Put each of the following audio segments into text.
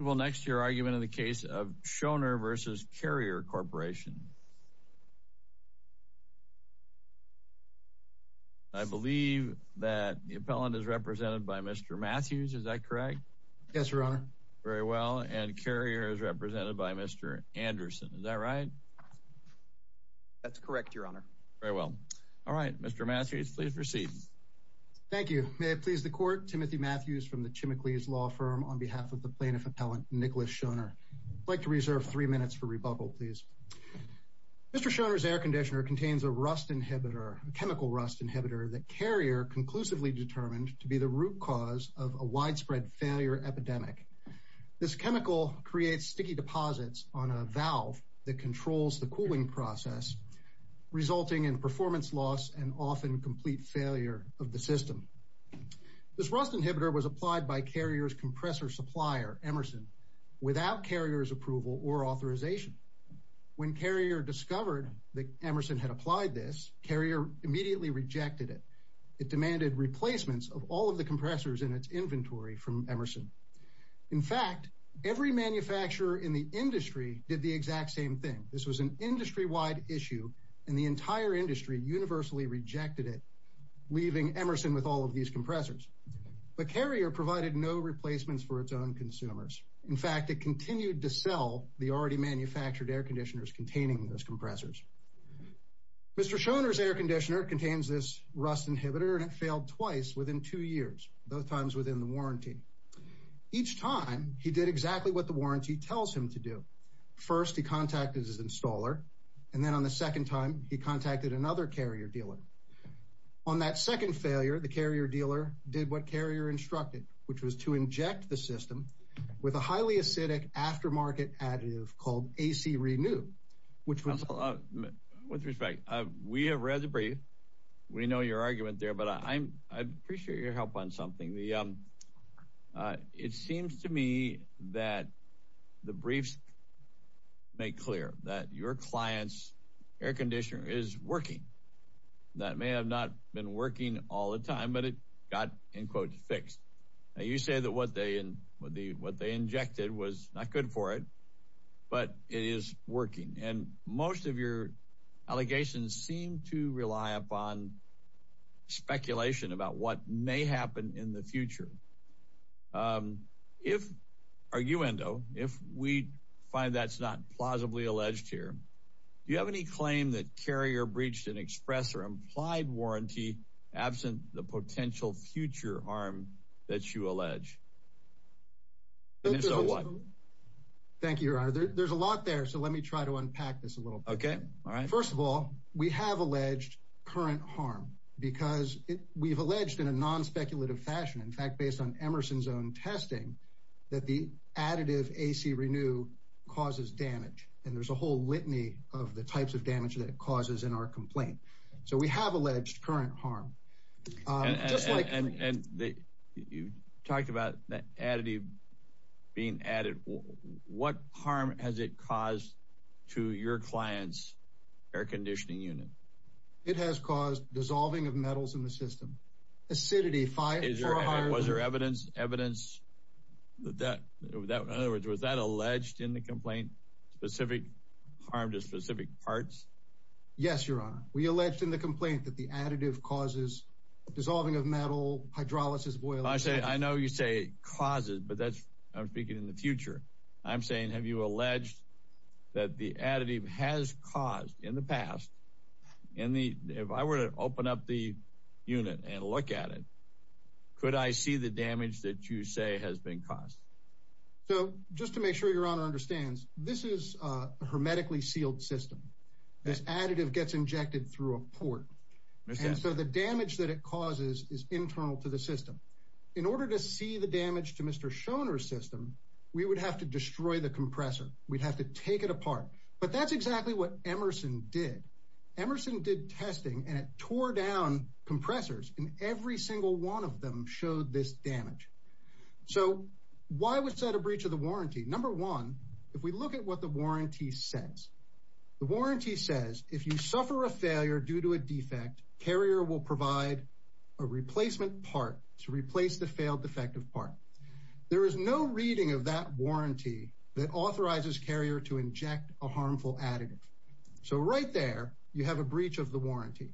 Well, next, your argument in the case of Shoner v. Carrier Corporation. I believe that the appellant is represented by Mr. Matthews. Is that correct? Yes, Your Honor. Very well. And Carrier is represented by Mr. Anderson. Is that right? That's correct, Your Honor. Very well. All right. Mr. Matthews, please proceed. Thank you. May it please the court. Timothy Matthews from the Chimichles Law Firm on behalf of the plaintiff appellant, Nicholas Shoner. I'd like to reserve three minutes for rebuttal, please. Mr. Shoner's air conditioner contains a rust inhibitor, a chemical rust inhibitor that Carrier conclusively determined to be the root cause of a widespread failure epidemic. This chemical creates sticky deposits on a valve that controls the cooling process, resulting in performance loss and often complete failure of the system. This rust inhibitor was applied by Carrier's compressor supplier, Emerson, without Carrier's approval or authorization. When Carrier discovered that Emerson had applied this, Carrier immediately rejected it. It demanded replacements of all of the compressors in its inventory from Emerson. In fact, every manufacturer in the industry did the exact same thing. This was an industry-wide issue, and the entire industry universally rejected it, leaving Emerson with all of these compressors. But Carrier provided no replacements for its own consumers. In fact, it continued to sell the already manufactured air conditioners containing those compressors. Mr. Shoner's air conditioner contains this rust inhibitor, and it failed twice within two years, both times within the warranty. Each time, he did exactly what the warranty tells him to do. First, he contacted his installer, and then on the second time, he contacted another Carrier dealer. On that second failure, the Carrier dealer did what Carrier instructed, which was to inject the system with a highly acidic aftermarket additive called A.C. Renew, which was... With respect, we have read the brief. We know your argument there, but I appreciate your help on something. The... It seems to me that the briefs make clear that your client's air conditioner is working. That may have not been working all the time, but it got, in quotes, fixed. Now, you say that what they injected was not good for it, but it is working. And most of your allegations seem to rely upon speculation about what may happen in the future. If, arguendo, if we find that's not plausibly alleged here, do you have any claim that Carrier breached an express or implied warranty absent the potential future harm that you allege? Thank you, your honor. There's a lot there, so let me try to unpack this a little bit. Okay, all right. First of all, we have alleged current harm, because we've alleged in a non-speculative fashion, in fact, based on Emerson's own testing, that the additive A.C. Renew causes damage. And there's a whole litany of the types of damage that it causes in our complaint. So we have alleged current harm. And you talked about that additive being added. What harm has it caused to your client's air conditioning unit? It has caused dissolving of metals in the system, acidity, fire. Was there evidence that, in other words, was that alleged in the complaint, specific harm to specific parts? Yes, your honor. We alleged in the complaint that the additive causes dissolving of metal, hydrolysis, boiling. I say, I know you say causes, but that's, I'm speaking in the future. I'm saying, have you alleged that the additive has caused, in the past, in the, if I were to open up the unit and look at it, could I see the damage that you say has been caused? So just to make sure your honor understands, this is a hermetically sealed system. This additive gets injected through a port. And so the damage that it causes is internal to the system. In order to see the damage to Mr. Shoner's system, we would have to destroy the compressor. We'd have to take it apart. But that's exactly what Emerson did. Emerson did testing and it tore down compressors, and every single one of them showed this damage. So why was that a breach of the warranty? Number one, if we look at what the warranty says, the warranty says, if you suffer a failure due to a defect, carrier will provide a replacement part to replace the failed defective part. There is no reading of that warranty that authorizes carrier to inject a harmful additive. So right there, you have a breach of the warranty.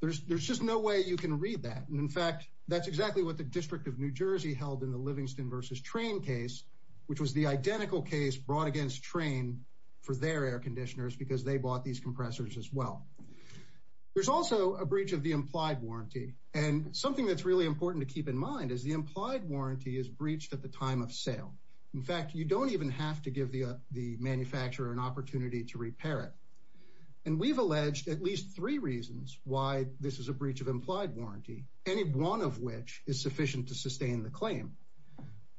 There's just no way you can read that. And in fact, that's exactly what the District of New Jersey held in the Livingston versus Train case, which was the identical case brought against Train for their air conditioners because they bought these compressors as well. There's also a breach of the implied warranty. And something that's really important to keep in mind is the implied warranty is breached at the time of sale. In fact, you don't even have to give the manufacturer an opportunity to repair it. And we've alleged at least three reasons why this is a breach of implied warranty, any one of which is sufficient to sustain the claim.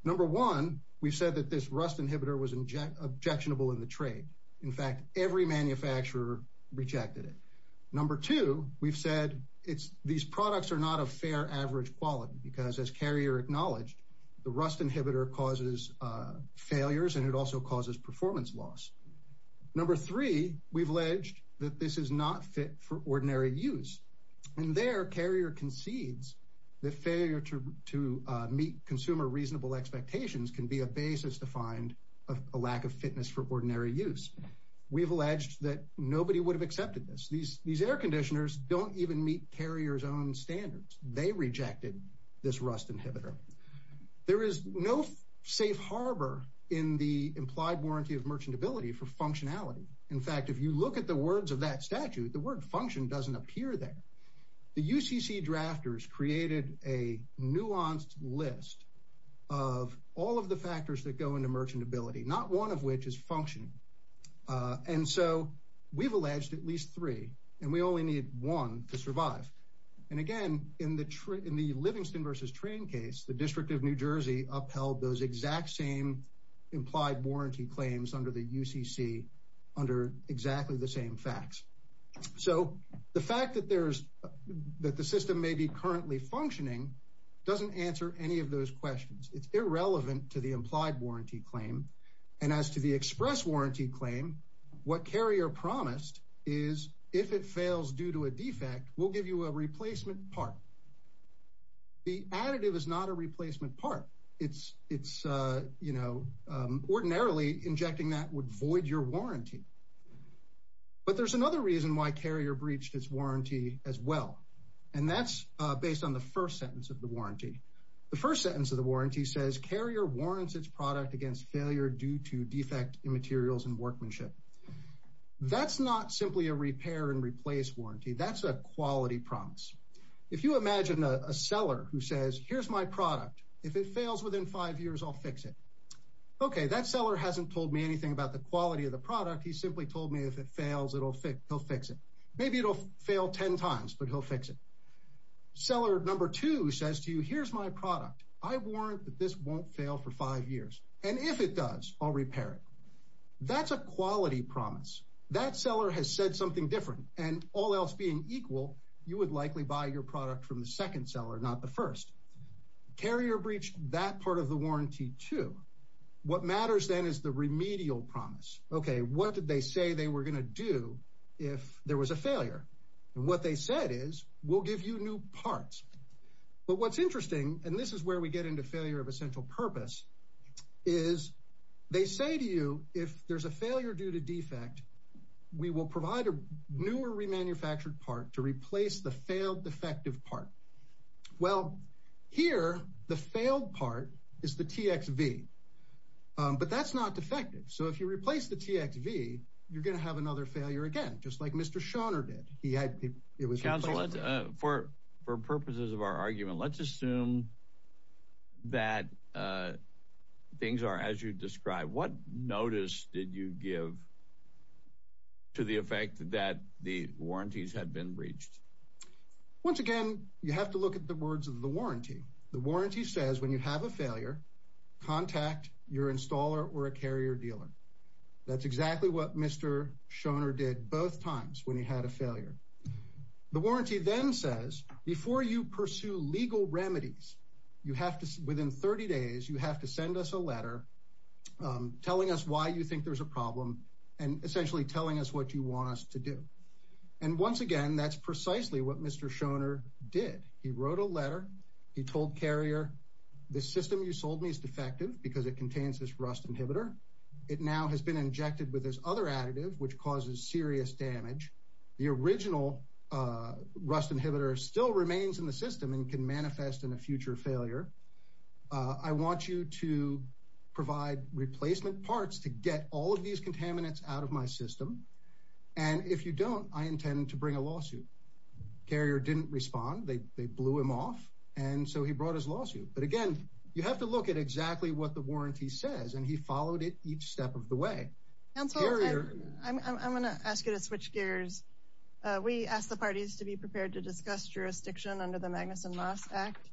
Number one, we've said that this rust inhibitor was objectionable in the trade. In fact, every manufacturer rejected it. Number two, we've said these products are not of fair average quality because as carrier acknowledged, the rust inhibitor causes failures and it also causes performance loss. Number three, we've alleged that this is not fit for ordinary use. And there, carrier concedes that failure to meet consumer reasonable expectations can be a basis to find a lack of fitness for ordinary use. We've alleged that nobody would have accepted this. These air conditioners don't even meet carrier's own standards. They rejected this rust inhibitor. There is no safe harbor in the implied warranty of merchantability for functionality. In fact, if you look at the words of that statute, the word function doesn't appear there. The UCC drafters created a nuanced list of all of the factors that go into merchantability, not one of which is function. And so, we've alleged at least three and we only need one to survive. And again, in the Livingston versus Train case, the District of New Jersey upheld those exact same implied warranty claims under the UCC under exactly the same facts. So, the fact that the system may be currently functioning doesn't answer any of those questions. It's irrelevant to the implied warranty claim. And as to the express warranty claim, what carrier promised is if it fails due to a defect, we'll give you a replacement part. The additive is not a replacement part. It's ordinarily injecting that would void your warranty. But there's another reason why carrier breached its warranty as well. And that's based on the first sentence of the warranty. The first sentence of the warranty says, carrier warrants its product against failure due to defect in materials and workmanship. That's not simply a repair and replace warranty. That's a quality promise. If you imagine a seller who says, here's my product. If it fails within five years, I'll fix it. Okay, that seller hasn't told me anything about the quality of the product. He simply told me if it fails, he'll fix it. Maybe it'll fail 10 times, but he'll fix it. Seller number two says to you, here's my product. I warrant that this won't fail for five years. And if it does, I'll repair it. That's a quality promise. That seller has said something different. And all else being equal, you would likely buy your product from the second seller, not the first. Carrier breached that part of the warranty too. What matters then is the remedial promise. Okay, what did they say they were going to do if there was a failure? And what they said is, we'll give you new parts. But what's interesting, and this is where we get into failure of essential purpose, is they say to you, if there's a failure due to defect, we will provide a newer remanufactured part to replace the failed defective part. Well, here, the failed part is the TXV. But that's not defective. So if you replace the TXV, you're going to have another failure again, just like Mr. Shoner did. He had, it was- Counsel, for purposes of our argument, let's assume that things are as you described. What notice did you give to the effect that the warranties had been breached? Once again, you have to look at the words of the warranty. The warranty says, when you have a failure, contact your installer or a carrier dealer. That's exactly what Mr. Shoner did both times when he had a failure. The warranty then says, before you pursue legal remedies, within 30 days, you have to send us a letter telling us why you think there's a problem, and essentially telling us what you want us to do. And once again, that's precisely what Mr. Shoner did. He wrote a letter. He told Carrier, the system you sold me is defective because it contains this rust inhibitor. It now has been injected with this other additive, which causes serious damage. The original rust inhibitor still remains in the system and can manifest in a future failure. I want you to provide replacement parts to get all of these contaminants out of my system. And if you don't, I intend to bring a lawsuit. Carrier didn't respond. They blew him off. And so he brought his lawsuit. But again, you have to look at exactly what the warranty says. And he followed it each step of the way. Carrier- Counsel, I'm going to ask you to switch gears. We ask the parties to be prepared to discuss jurisdiction under the Magnuson-Moss Act.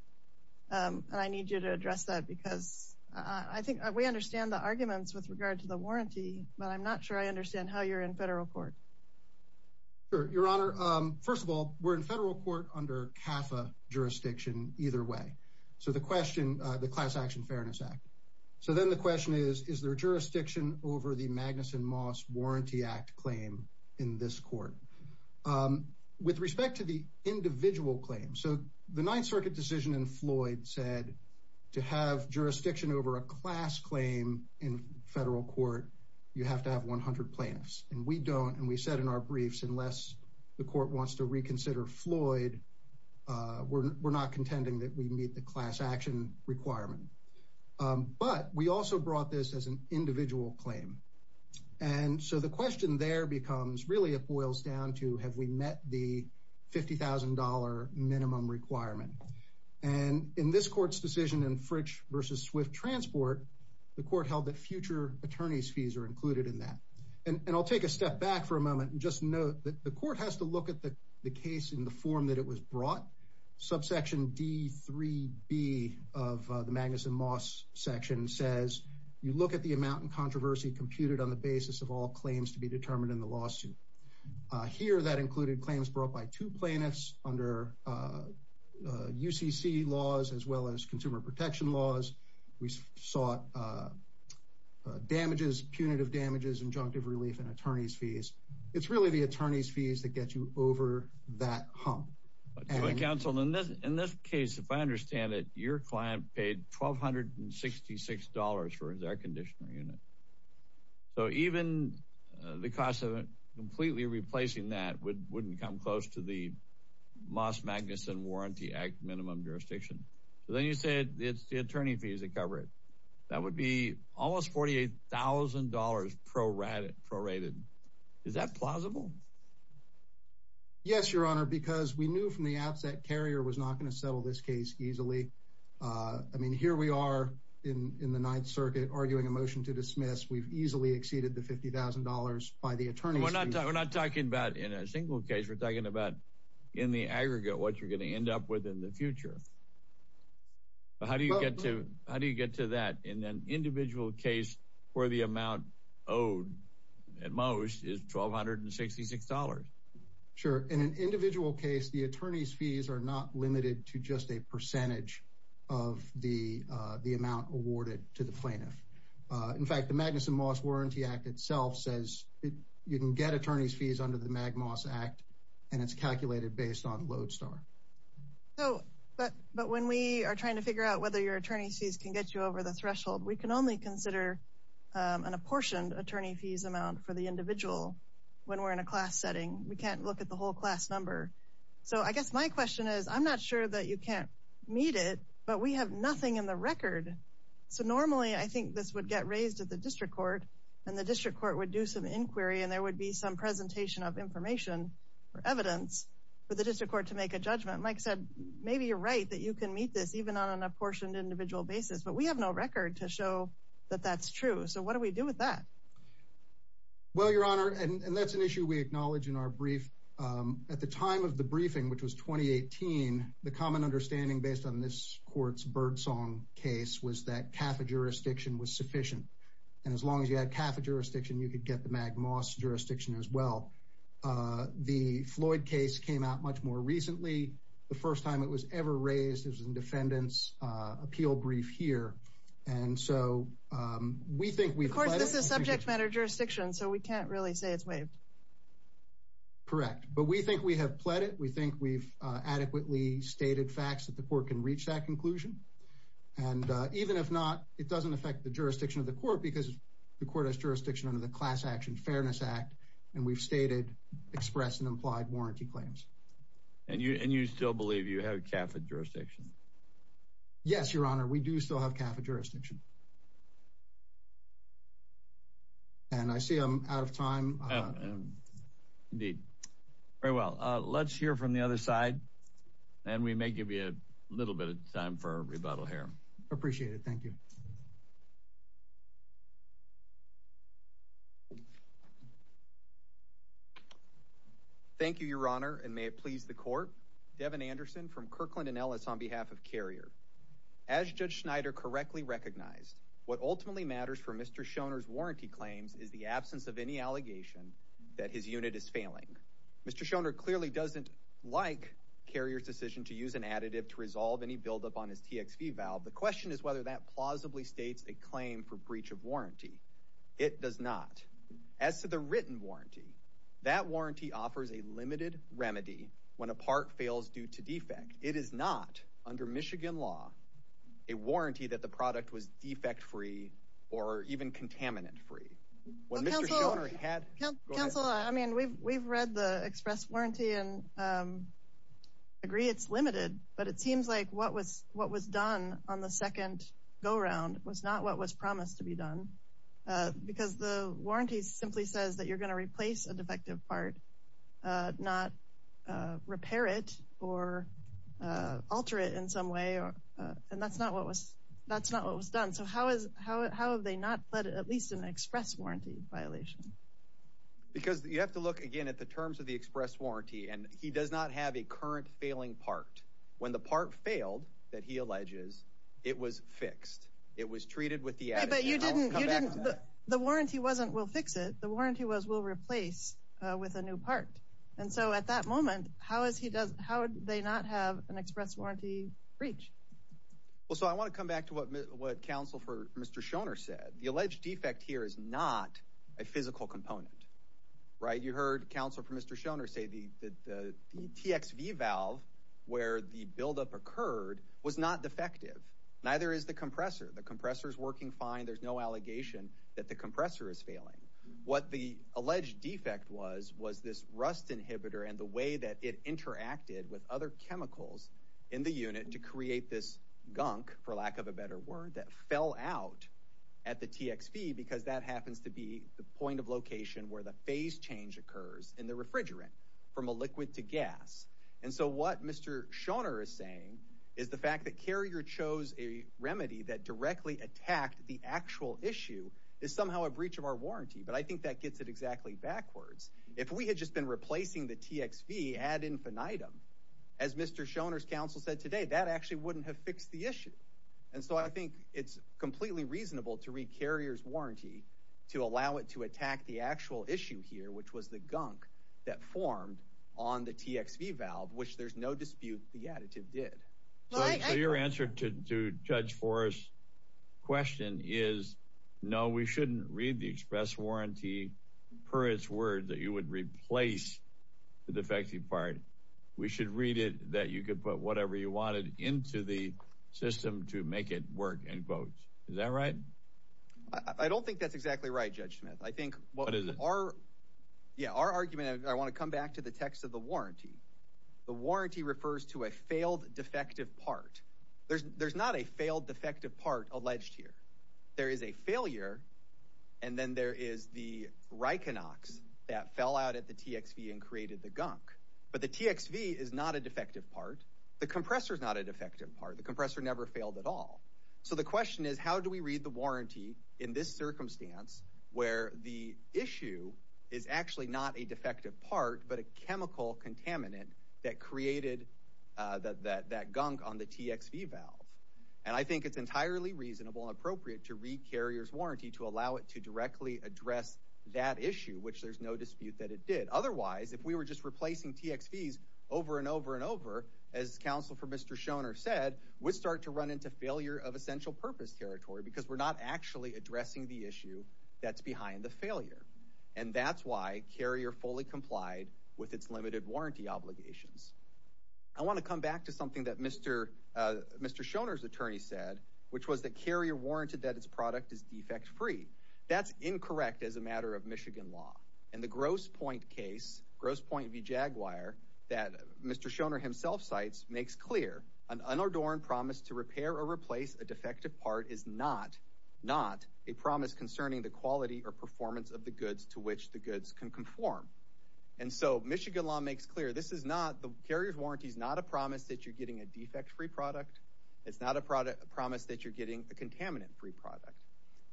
And I need you to address that because I think we understand the arguments with regard to the warranty, but I'm not sure I understand how you're in federal court. Sure, Your Honor. First of all, we're in federal court under CAFA jurisdiction either way. So the question, the Class Action Fairness Act. So then the question is, is there jurisdiction over the Magnuson-Moss Warranty Act claim in this court? With respect to the individual claim, so the Ninth Circuit decision in Floyd said to have jurisdiction over a class claim in federal court, you have to have 100 plaintiffs. And we don't. And we said in our briefs, unless the court wants to reconsider Floyd, we're not contending that we meet the class action requirement. But we also brought this as an individual claim. And so the question there becomes really, it boils down to, have we met the $50,000 minimum requirement? And in this court's decision in Fritch versus Swift Transport, the court held that future attorney's fees are included in that. And I'll take a step back for a moment and just note that the court has to look at the case in the form that it was brought. Subsection D3B of the Magnuson-Moss section says, you look at the amount in controversy computed on the basis of all claims to be determined in the lawsuit. Here that included claims brought by two plaintiffs under UCC laws, as well as consumer protection laws. We saw damages, punitive damages, injunctive relief, and attorney's fees. It's really the attorney's fees that get you over that hump. And- But counsel, in this case, if I understand it, your client paid $1,266 for his air conditioner unit. So even the cost of completely replacing that wouldn't come close to the Moss-Magnuson Warranty Act minimum jurisdiction. So then you said it's the attorney fees that cover it. That would be almost $48,000 prorated. Is that plausible? Yes, Your Honor, because we knew from the outset Carrier was not going to settle this case easily. I mean, here we are in the Ninth Circuit arguing a motion to dismiss. We've easily exceeded the $50,000 by the attorney's fees. And we're not talking about in a single case. We're talking about in the aggregate what you're going to end up with in the future. But how do you get to that in an individual case where the amount owed at most is $1,266? Sure. In an individual case, the attorney's fees are not limited to just a percentage of the amount awarded to the plaintiff. In fact, the Magnuson-Moss Warranty Act itself says you can get attorney's fees under the MagMoss Act and it's calculated based on Lodestar. So, but when we are trying to figure out whether your attorney's fees can get you over the threshold, we can only consider an apportioned attorney fees amount for the individual when we're in a class setting. We can't look at the whole class number. So I guess my question is, I'm not sure that you can't meet it, but we have nothing in the record. So normally I think this would get raised at the District Court and the District Court would do some inquiry and there would be some presentation of information or evidence for the District Court to make a judgment. Mike said, maybe you're right that you can meet this even on an apportioned individual basis, but we have no record to show that that's true. So what do we do with that? Well, Your Honor, and that's an issue we acknowledge in our brief. At the time of the briefing, which was 2018, the common understanding based on this court's Birdsong case was that CAFA jurisdiction was sufficient. And as long as you had CAFA jurisdiction, you could get the MagMoss jurisdiction as well. The Floyd case came out much more recently. The first time it was ever raised was in defendant's appeal brief here. And so we think we've- Of course, this is subject matter jurisdiction, so we can't really say it's waived. Correct. But we think we have pled it. We think we've adequately stated facts that the court can reach that conclusion. And even if not, it doesn't affect the jurisdiction of the court because the court has jurisdiction under the Class Action Fairness Act. And we've stated, expressed, and implied warranty claims. And you still believe you have CAFA jurisdiction? Yes, Your Honor. We do still have CAFA jurisdiction. And I see I'm out of time. Indeed. Very well. Let's hear from the other side. And we may give you a little bit of time for rebuttal here. Appreciate it. Thank you. Thank you, Your Honor. And may it please the court. Devin Anderson from Kirkland & Ellis on behalf of Carrier. As Judge Schneider correctly recognized, what ultimately matters for Mr. Shoner's warranty claims is the absence of any allegation that his unit is failing. Mr. Shoner clearly doesn't like Carrier's decision to use an additive to resolve any buildup on his TXV valve. The question is whether that plausibly states a claim for breach of warranty. It does not. As to the written warranty, that warranty offers a limited remedy when a part fails due to defect. It is not, under Michigan law, a warranty that the product was defect-free or even contaminant-free. When Mr. Shoner had... Counsel, I mean, we've read the express warranty and agree it's limited, but it seems like what was done on the second go-round was not what was promised to be done because the warranty simply says that you're going to replace a defective part, not repair it or alter it in some way. And that's not what was done. So how have they not fled at least an express warranty violation? Because you have to look again at the terms of the express warranty and he does not have a current failing part. When the part failed, that he alleges, it was fixed. It was treated with the additive. But you didn't... The warranty wasn't, we'll fix it. The warranty was, we'll replace with a new part. And so at that moment, how would they not have an express warranty breach? Well, so I want to come back to what counsel for Mr. Shoner said. The alleged defect here is not a physical component, right? You heard counsel for Mr. Shoner say that the TXV valve, where the buildup occurred, was not defective. Neither is the compressor. The compressor is working fine. There's no allegation that the compressor is failing. What the alleged defect was, was this rust inhibitor and the way that it interacted with other chemicals in the unit to create this gunk, for lack of a better word, that fell out at the TXV because that happens to be the point of location where the phase change occurs in the refrigerant from a liquid to gas. And so what Mr. Shoner is saying is the fact that Carrier chose a remedy that directly attacked the actual issue is somehow a breach of our warranty. But I think that gets it exactly backwards. If we had just been replacing the TXV ad infinitum, as Mr. Shoner's counsel said today, that actually wouldn't have fixed the issue. And so I think it's completely reasonable to read Carrier's warranty to allow it to attack the actual issue here, which was the gunk that formed on the TXV valve, which there's no dispute the additive did. So your answer to Judge Forrest's question is, no, we shouldn't read the express warranty, per its word, that you would replace the defective part. We should read it that you could put whatever you wanted into the system to make it work, end quote. Is that right? I don't think that's exactly right, Judge Smith. I think what is it? Our, yeah, our argument, I want to come back to the text of the warranty. The warranty refers to a failed defective part. There's not a failed defective part alleged here. There is a failure. And then there is the Rikonox that fell out at the TXV and created the gunk. But the TXV is not a defective part. The compressor is not a defective part. The compressor never failed at all. So the question is, how do we read the warranty in this circumstance where the issue is actually not a defective part, but a chemical contaminant that created that gunk on the TXV valve? And I think it's entirely reasonable and appropriate to read Carrier's warranty to allow it to directly address that issue, which there's no dispute that it did. Otherwise, if we were just replacing TXVs over and over and over, as Counsel for Mr. Shoner said, we'd start to run into failure of essential purpose territory because we're not actually addressing the issue that's behind the failure. And that's why Carrier fully complied with its limited warranty obligations. I want to come back to something that Mr. Shoner's attorney said, which was that Carrier warranted that its product is defect-free. That's incorrect as a matter of Michigan law. And the Grosse Pointe case, Grosse Pointe v. Jaguar, that Mr. Shoner himself cites, makes clear an unadorned promise to repair or replace a defective part is not a promise concerning the quality or performance of the goods to which the goods can conform. And so Michigan law makes clear this is not, the Carrier's warranty is not a promise that you're getting a defect-free product. It's not a promise that you're getting a contaminant-free product.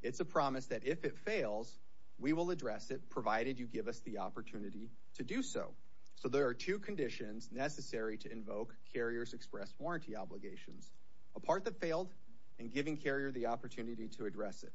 It's a promise that if it fails, we will address it, provided you give us the opportunity to do so. So there are two conditions necessary to invoke Carrier's express warranty obligations. A part that failed and giving Carrier the opportunity to address it.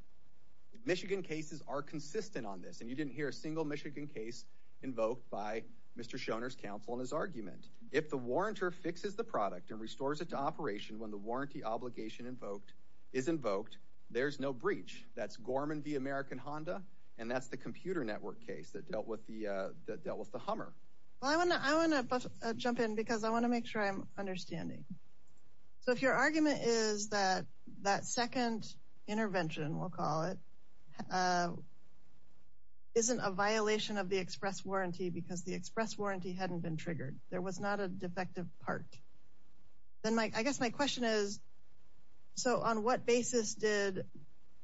Michigan cases are consistent on this, and you didn't hear a single Michigan case invoked by Mr. Shoner's counsel in his argument. If the warrantor fixes the product and restores it to operation when the warranty obligation invoked is invoked, there's no breach. That's Gorman v. American Honda, and that's the Computer Network case that dealt with the Hummer. Well, I want to jump in because I want to make sure I'm understanding. So if your argument is that that second intervention, we'll call it, isn't a violation of the express warranty because the express warranty hadn't been triggered, there was not a defective part, then I guess my question is, so on what basis did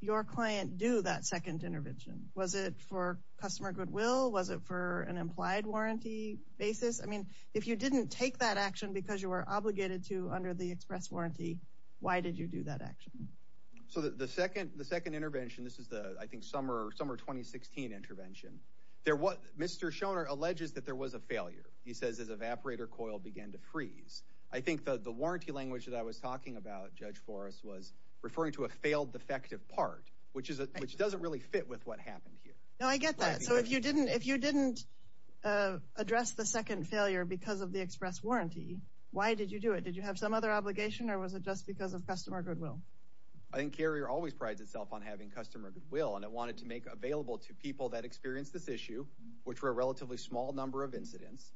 your client do that second intervention? Was it for customer goodwill? Was it for an implied warranty basis? I mean, if you didn't take that action because you were obligated to under the express warranty, why did you do that action? So the second intervention, this is the, I think, summer 2016 intervention, Mr. Shoner alleges that there was a failure. He says his evaporator coil began to freeze. I think the warranty language that I was talking about, Judge Forrest, was referring to a failed defective part, which doesn't really fit with what happened here. No, I get that. So if you didn't address the second failure because of the express warranty, why did you do it? Did you have some other obligation or was it just because of customer goodwill? I think Carrier always prides itself on having customer goodwill and it wanted to make available to people that experienced this issue, which were a relatively small number of incidents,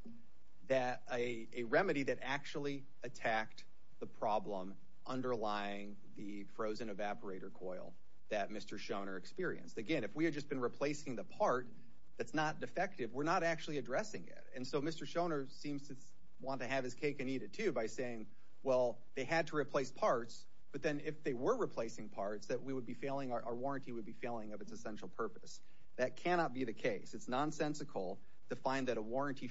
that a remedy that actually attacked the problem underlying the frozen evaporator coil that Mr. Shoner experienced. Again, if we had just been replacing the part that's not defective, we're not actually addressing it. And so Mr. Shoner seems to want to have his cake and eat it too by saying, well, they had to replace parts, but then if they were replacing parts, that we would be failing, our warranty would be failing of its essential purpose. That cannot be the case. It's nonsensical to find that a warranty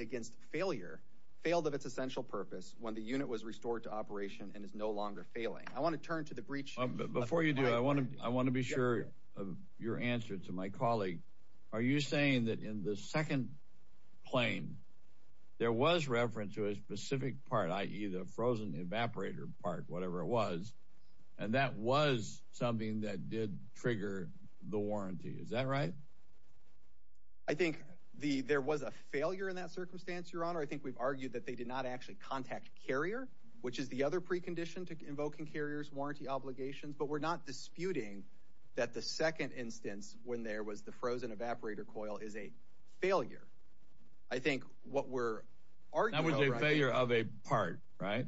against failure failed of its essential purpose when the unit was restored to operation and is no longer failing. I want to turn to the breach. Before you do, I want to be sure of your answer to my colleague. Are you saying that in the second plane, there was reference to a specific part, i.e. the frozen evaporator part, whatever it was, and that was something that did trigger the warranty. Is that right? I think there was a failure in that circumstance, Your Honor. I think we've argued that they did not actually contact carrier, which is the other precondition to invoking carriers warranty obligations. But we're not disputing that the second instance when there was the frozen evaporator coil is a failure. I think what we're arguing... That was a failure of a part, right?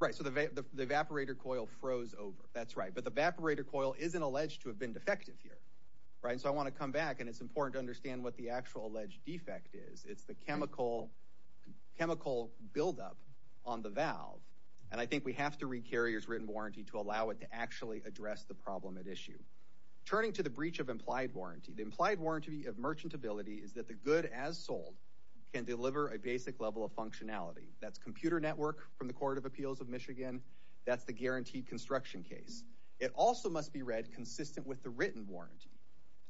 Right. So the evaporator coil froze over. That's right. But the evaporator coil isn't alleged to have been defective here, right? And so I want to come back and it's important to understand what the actual alleged defect is. It's the chemical buildup on the valve. And I think we have to read carrier's written warranty to allow it to actually address the problem at issue. Turning to the breach of implied warranty, the implied warranty of merchantability is that the good as sold can deliver a basic level of functionality. That's computer network from the Court of Appeals of Michigan. That's the guaranteed construction case. It also must be read consistent with the written warranty.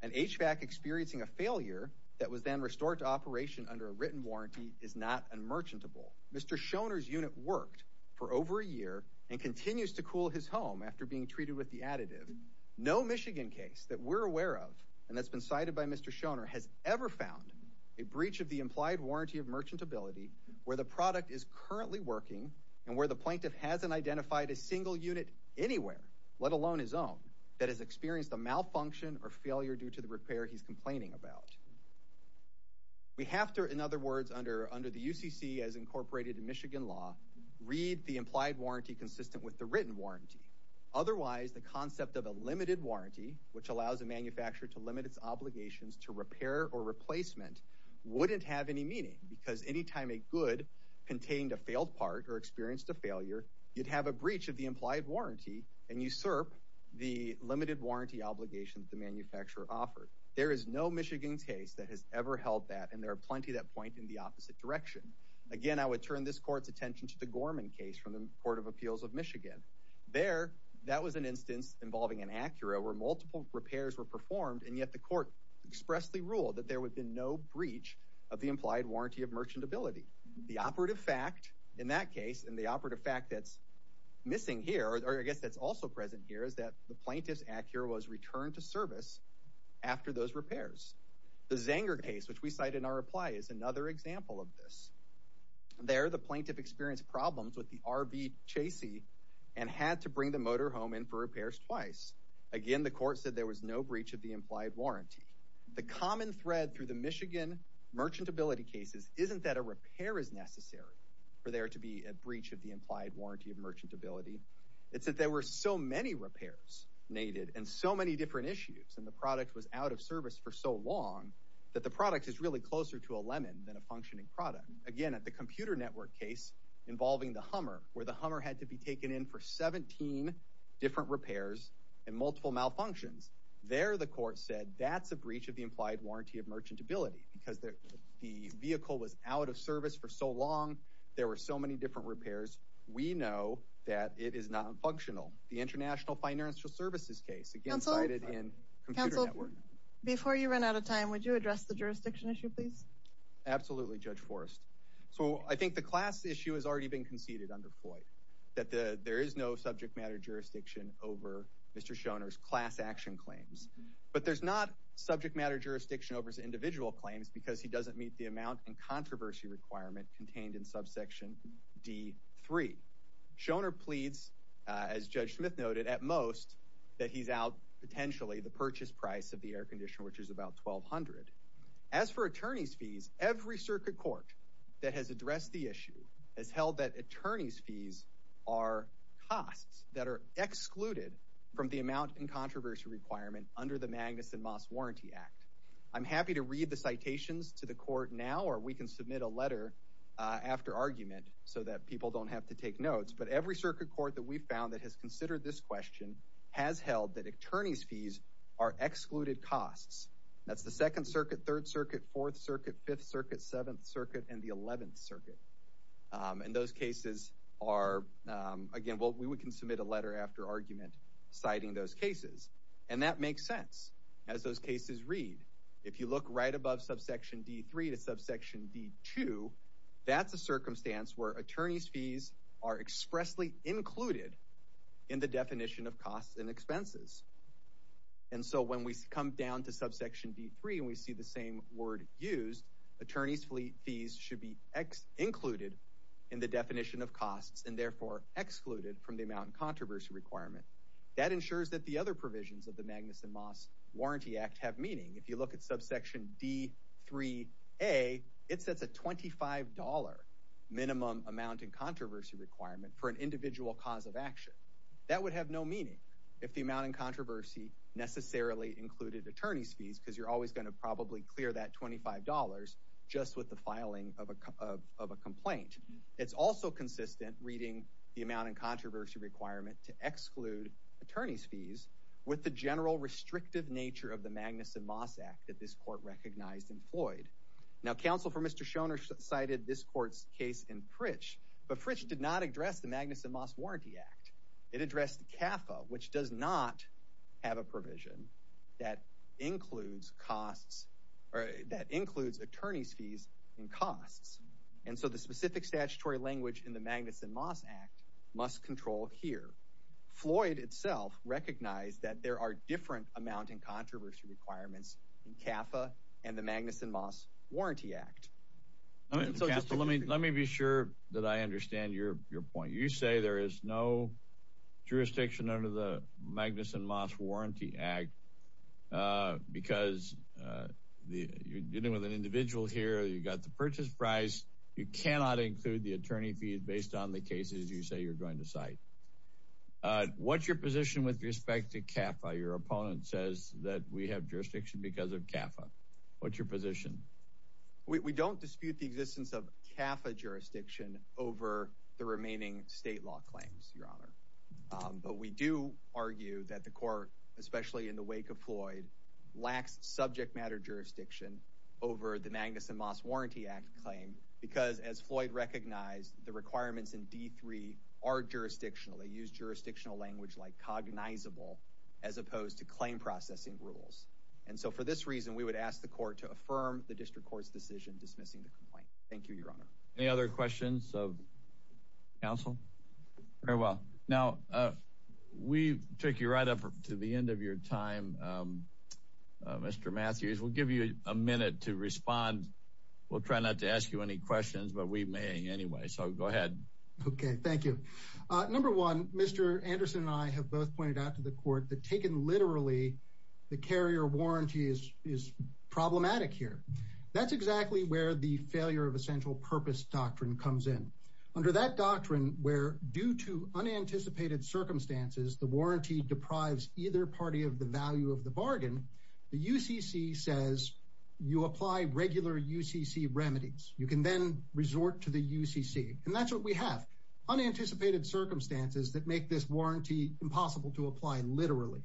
An HVAC experiencing a failure that was then restored to operation under a written warranty is not a merchantable. Mr. Shoner's unit worked for over a year and continues to cool his home after being treated with the additive. No Michigan case that we're aware of and that's been cited by Mr. Shoner has ever found a breach of the implied warranty of merchantability where the product is currently working and where the plaintiff hasn't identified a single unit anywhere, let alone his own, that has experienced a malfunction or failure due to the repair he's complaining about. We have to, in other words, under the UCC as incorporated in Michigan law, read the implied warranty consistent with the written warranty. Otherwise, the concept of a limited warranty, which allows a manufacturer to limit its obligations to repair or replacement, wouldn't have any meaning because anytime a good contained a failed part or experienced a failure, you'd have a breach of the implied warranty and usurp the limited warranty obligation that the manufacturer offered. There is no Michigan case that has ever held that and there are plenty that point in the opposite direction. Again, I would turn this court's attention to the Gorman case from the Court of Appeals of Michigan. There, that was an instance involving an Acura where multiple repairs were performed and yet the court expressly ruled that there would be no breach of the implied warranty of merchantability. The operative fact in that case and the operative fact that's missing here, or I guess that's also present here is that the plaintiff's Acura was returned to service after those repairs. The Zanger case, which we cite in our reply, is another example of this. There, the plaintiff experienced problems with the RV Chasey and had to bring the motor home in for repairs twice. Again, the court said there was no breach of the implied warranty. The common thread through the Michigan merchantability cases isn't that a repair is necessary for there to be a breach of the implied warranty of merchantability. It's that there were so many repairs needed and so many different issues and the product was out of service for so long that the product is really closer to a lemon than a functioning product. Again, at the Computer Network case involving the Hummer, where the Hummer had to be taken in for 17 different repairs and multiple malfunctions. There, the court said that's a breach of the implied warranty of merchantability because the vehicle was out of service for so long. There were so many different repairs. We know that it is not functional. The International Financial Services case, again, cited in Computer Network. Counsel, before you run out of time, would you address the jurisdiction issue, please? Absolutely, Judge Forrest. So I think the class issue has already been conceded under Floyd that there is no subject matter jurisdiction over Mr. Shoner's class action claims, but there's not subject matter jurisdiction over his individual claims because he doesn't meet the amount and controversy requirement contained in subsection D3. Shoner pleads, as Judge Smith noted, at most that he's out potentially the purchase price of the air conditioner, which is about 1200. As for attorney's fees, every circuit court that has addressed the issue has held that attorney's fees are costs that are excluded from the amount and controversy requirement under the Magnuson Moss Warranty Act. I'm happy to read the citations to the court now, or we can submit a letter after argument so that people don't have to take notes. But every circuit court that we've found that has considered this question has held that attorney's fees are excluded costs. That's the Second Circuit, Third Circuit, Fourth Circuit, Fifth Circuit, Seventh Circuit, and the Eleventh Circuit. And those cases are, again, we can submit a letter after argument citing those cases. And that makes sense as those cases read. If you look right above subsection D3 to subsection D2, that's a circumstance where attorney's fees are expressly included in the definition of costs and expenses. And so when we come down to subsection D3 and we see the same word used, attorney's fees should be included in the definition of costs and therefore excluded from the amount and controversy requirement. That ensures that the other provisions of the Magnuson Moss Warranty Act have meaning. If you look at subsection D3a, it sets a $25 minimum amount and controversy requirement for an individual cause of action. That would have no meaning if the amount and controversy necessarily included attorney's fees because you're always gonna probably clear that $25 just with the filing of a complaint. It's also consistent reading the amount and controversy requirement to exclude attorney's fees with the general restrictive nature of the Magnuson Moss Act that this court recognized in Floyd. Now, counsel for Mr. Shoner cited this court's case in Fritch, but Fritch did not address the Magnuson Moss Warranty Act. It addressed CAFA, which does not have a provision that includes costs that includes attorney's fees and costs. And so the specific statutory language in the Magnuson Moss Act must control here. Floyd itself recognized that there are different amount and controversy requirements in CAFA and the Magnuson Moss Warranty Act. So just let me be sure that I understand your point. You say there is no jurisdiction under the Magnuson Moss Warranty Act because you're dealing with an individual here. You got the purchase price. You cannot include the attorney fees based on the cases you say you're going to cite. What's your position with respect to CAFA? Your opponent says that we have jurisdiction because of CAFA. What's your position? We don't dispute the existence of CAFA jurisdiction over the remaining state law claims, Your Honor. But we do argue that the court, especially in the wake of Floyd, lacks subject matter jurisdiction over the Magnuson Moss Warranty Act claim because as Floyd recognized, the requirements in D3 are jurisdictional. They use jurisdictional language like cognizable as opposed to claim processing rules. And so for this reason, we would ask the court to affirm the district court's decision dismissing the complaint. Thank you, Your Honor. Any other questions of counsel? Very well. Now, we took you right up to the end of your time, Mr. Matthews. We'll give you a minute to respond. We'll try not to ask you any questions, but we may anyway. So go ahead. Okay, thank you. Number one, Mr. Anderson and I have both pointed out to the court that taken literally, the carrier warranty is problematic here. That's exactly where the failure of essential purpose doctrine comes in. Under that doctrine, where due to unanticipated circumstances, the warranty deprives either party of the value of the bargain, the UCC says you apply regular UCC remedies. You can then resort to the UCC. And that's what we have, unanticipated circumstances that make this warranty impossible to apply literally.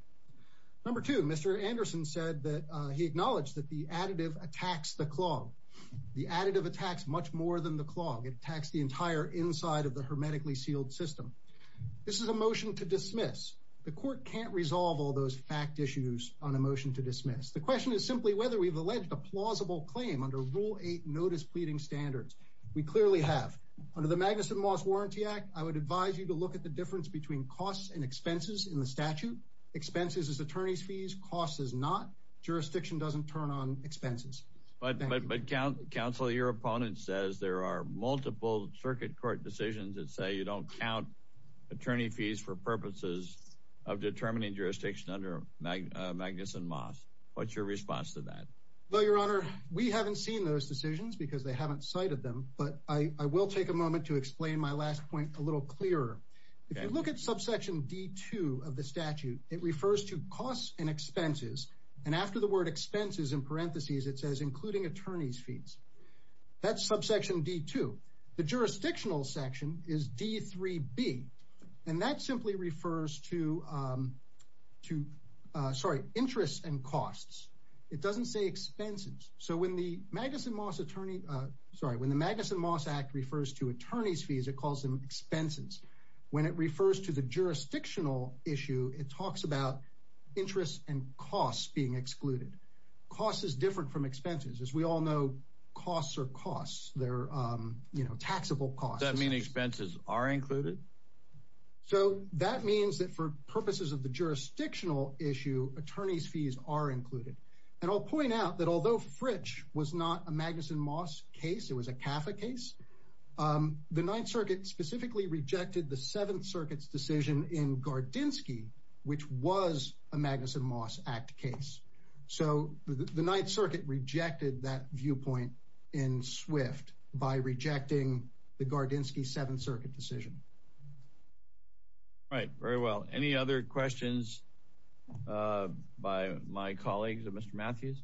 Number two, Mr. Anderson said that he acknowledged that the additive attacks the clog. The additive attacks much more than the clog. It attacks the entire inside of the hermetically sealed system. This is a motion to dismiss. The court can't resolve all those fact issues on a motion to dismiss. The question is simply whether we've alleged a plausible claim under rule eight notice pleading standards. We clearly have. Under the Magnuson Moss Warranty Act, I would advise you to look at the difference between costs and expenses in the statute. Expenses is attorney's fees, costs is not. Jurisdiction doesn't turn on expenses. But counsel, your opponent says there are multiple circuit court decisions that say you don't count attorney fees for purposes of determining jurisdiction under Magnuson Moss. What's your response to that? Well, your honor, we haven't seen those decisions because they haven't cited them. But I will take a moment to explain my last point a little clearer. If you look at subsection D2 of the statute, it refers to costs and expenses. And after the word expenses in parentheses, it says including attorney's fees. That's subsection D2. The jurisdictional section is D3B. And that simply refers to, to, sorry, interests and costs. It doesn't say expenses. So when the Magnuson Moss attorney, sorry, when the Magnuson Moss Act refers to attorney's fees, it calls them expenses. When it refers to the jurisdictional issue, it talks about interest and costs being excluded. Costs is different from expenses. As we all know, costs are costs. They're, you know, taxable costs. Does that mean expenses are included? So that means that for purposes of the jurisdictional issue, attorney's fees are included. And I'll point out that although Fritch was not a Magnuson Moss case, it was a CAFA case, the Ninth Circuit specifically rejected the Seventh Circuit's decision in Gardinsky, which was a Magnuson Moss Act case. So the Ninth Circuit rejected that viewpoint in Swift by rejecting the Gardinsky Seventh Circuit decision. All right. Very well. Any other questions by my colleagues and Mr. Matthews?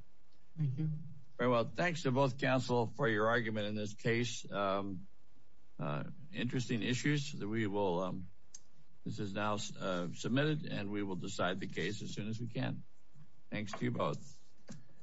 Thank you. Very well. Thanks to both counsel for your argument in this case. Interesting issues that we will, this is now submitted, and we will decide the case as soon as we can. Thanks to you both.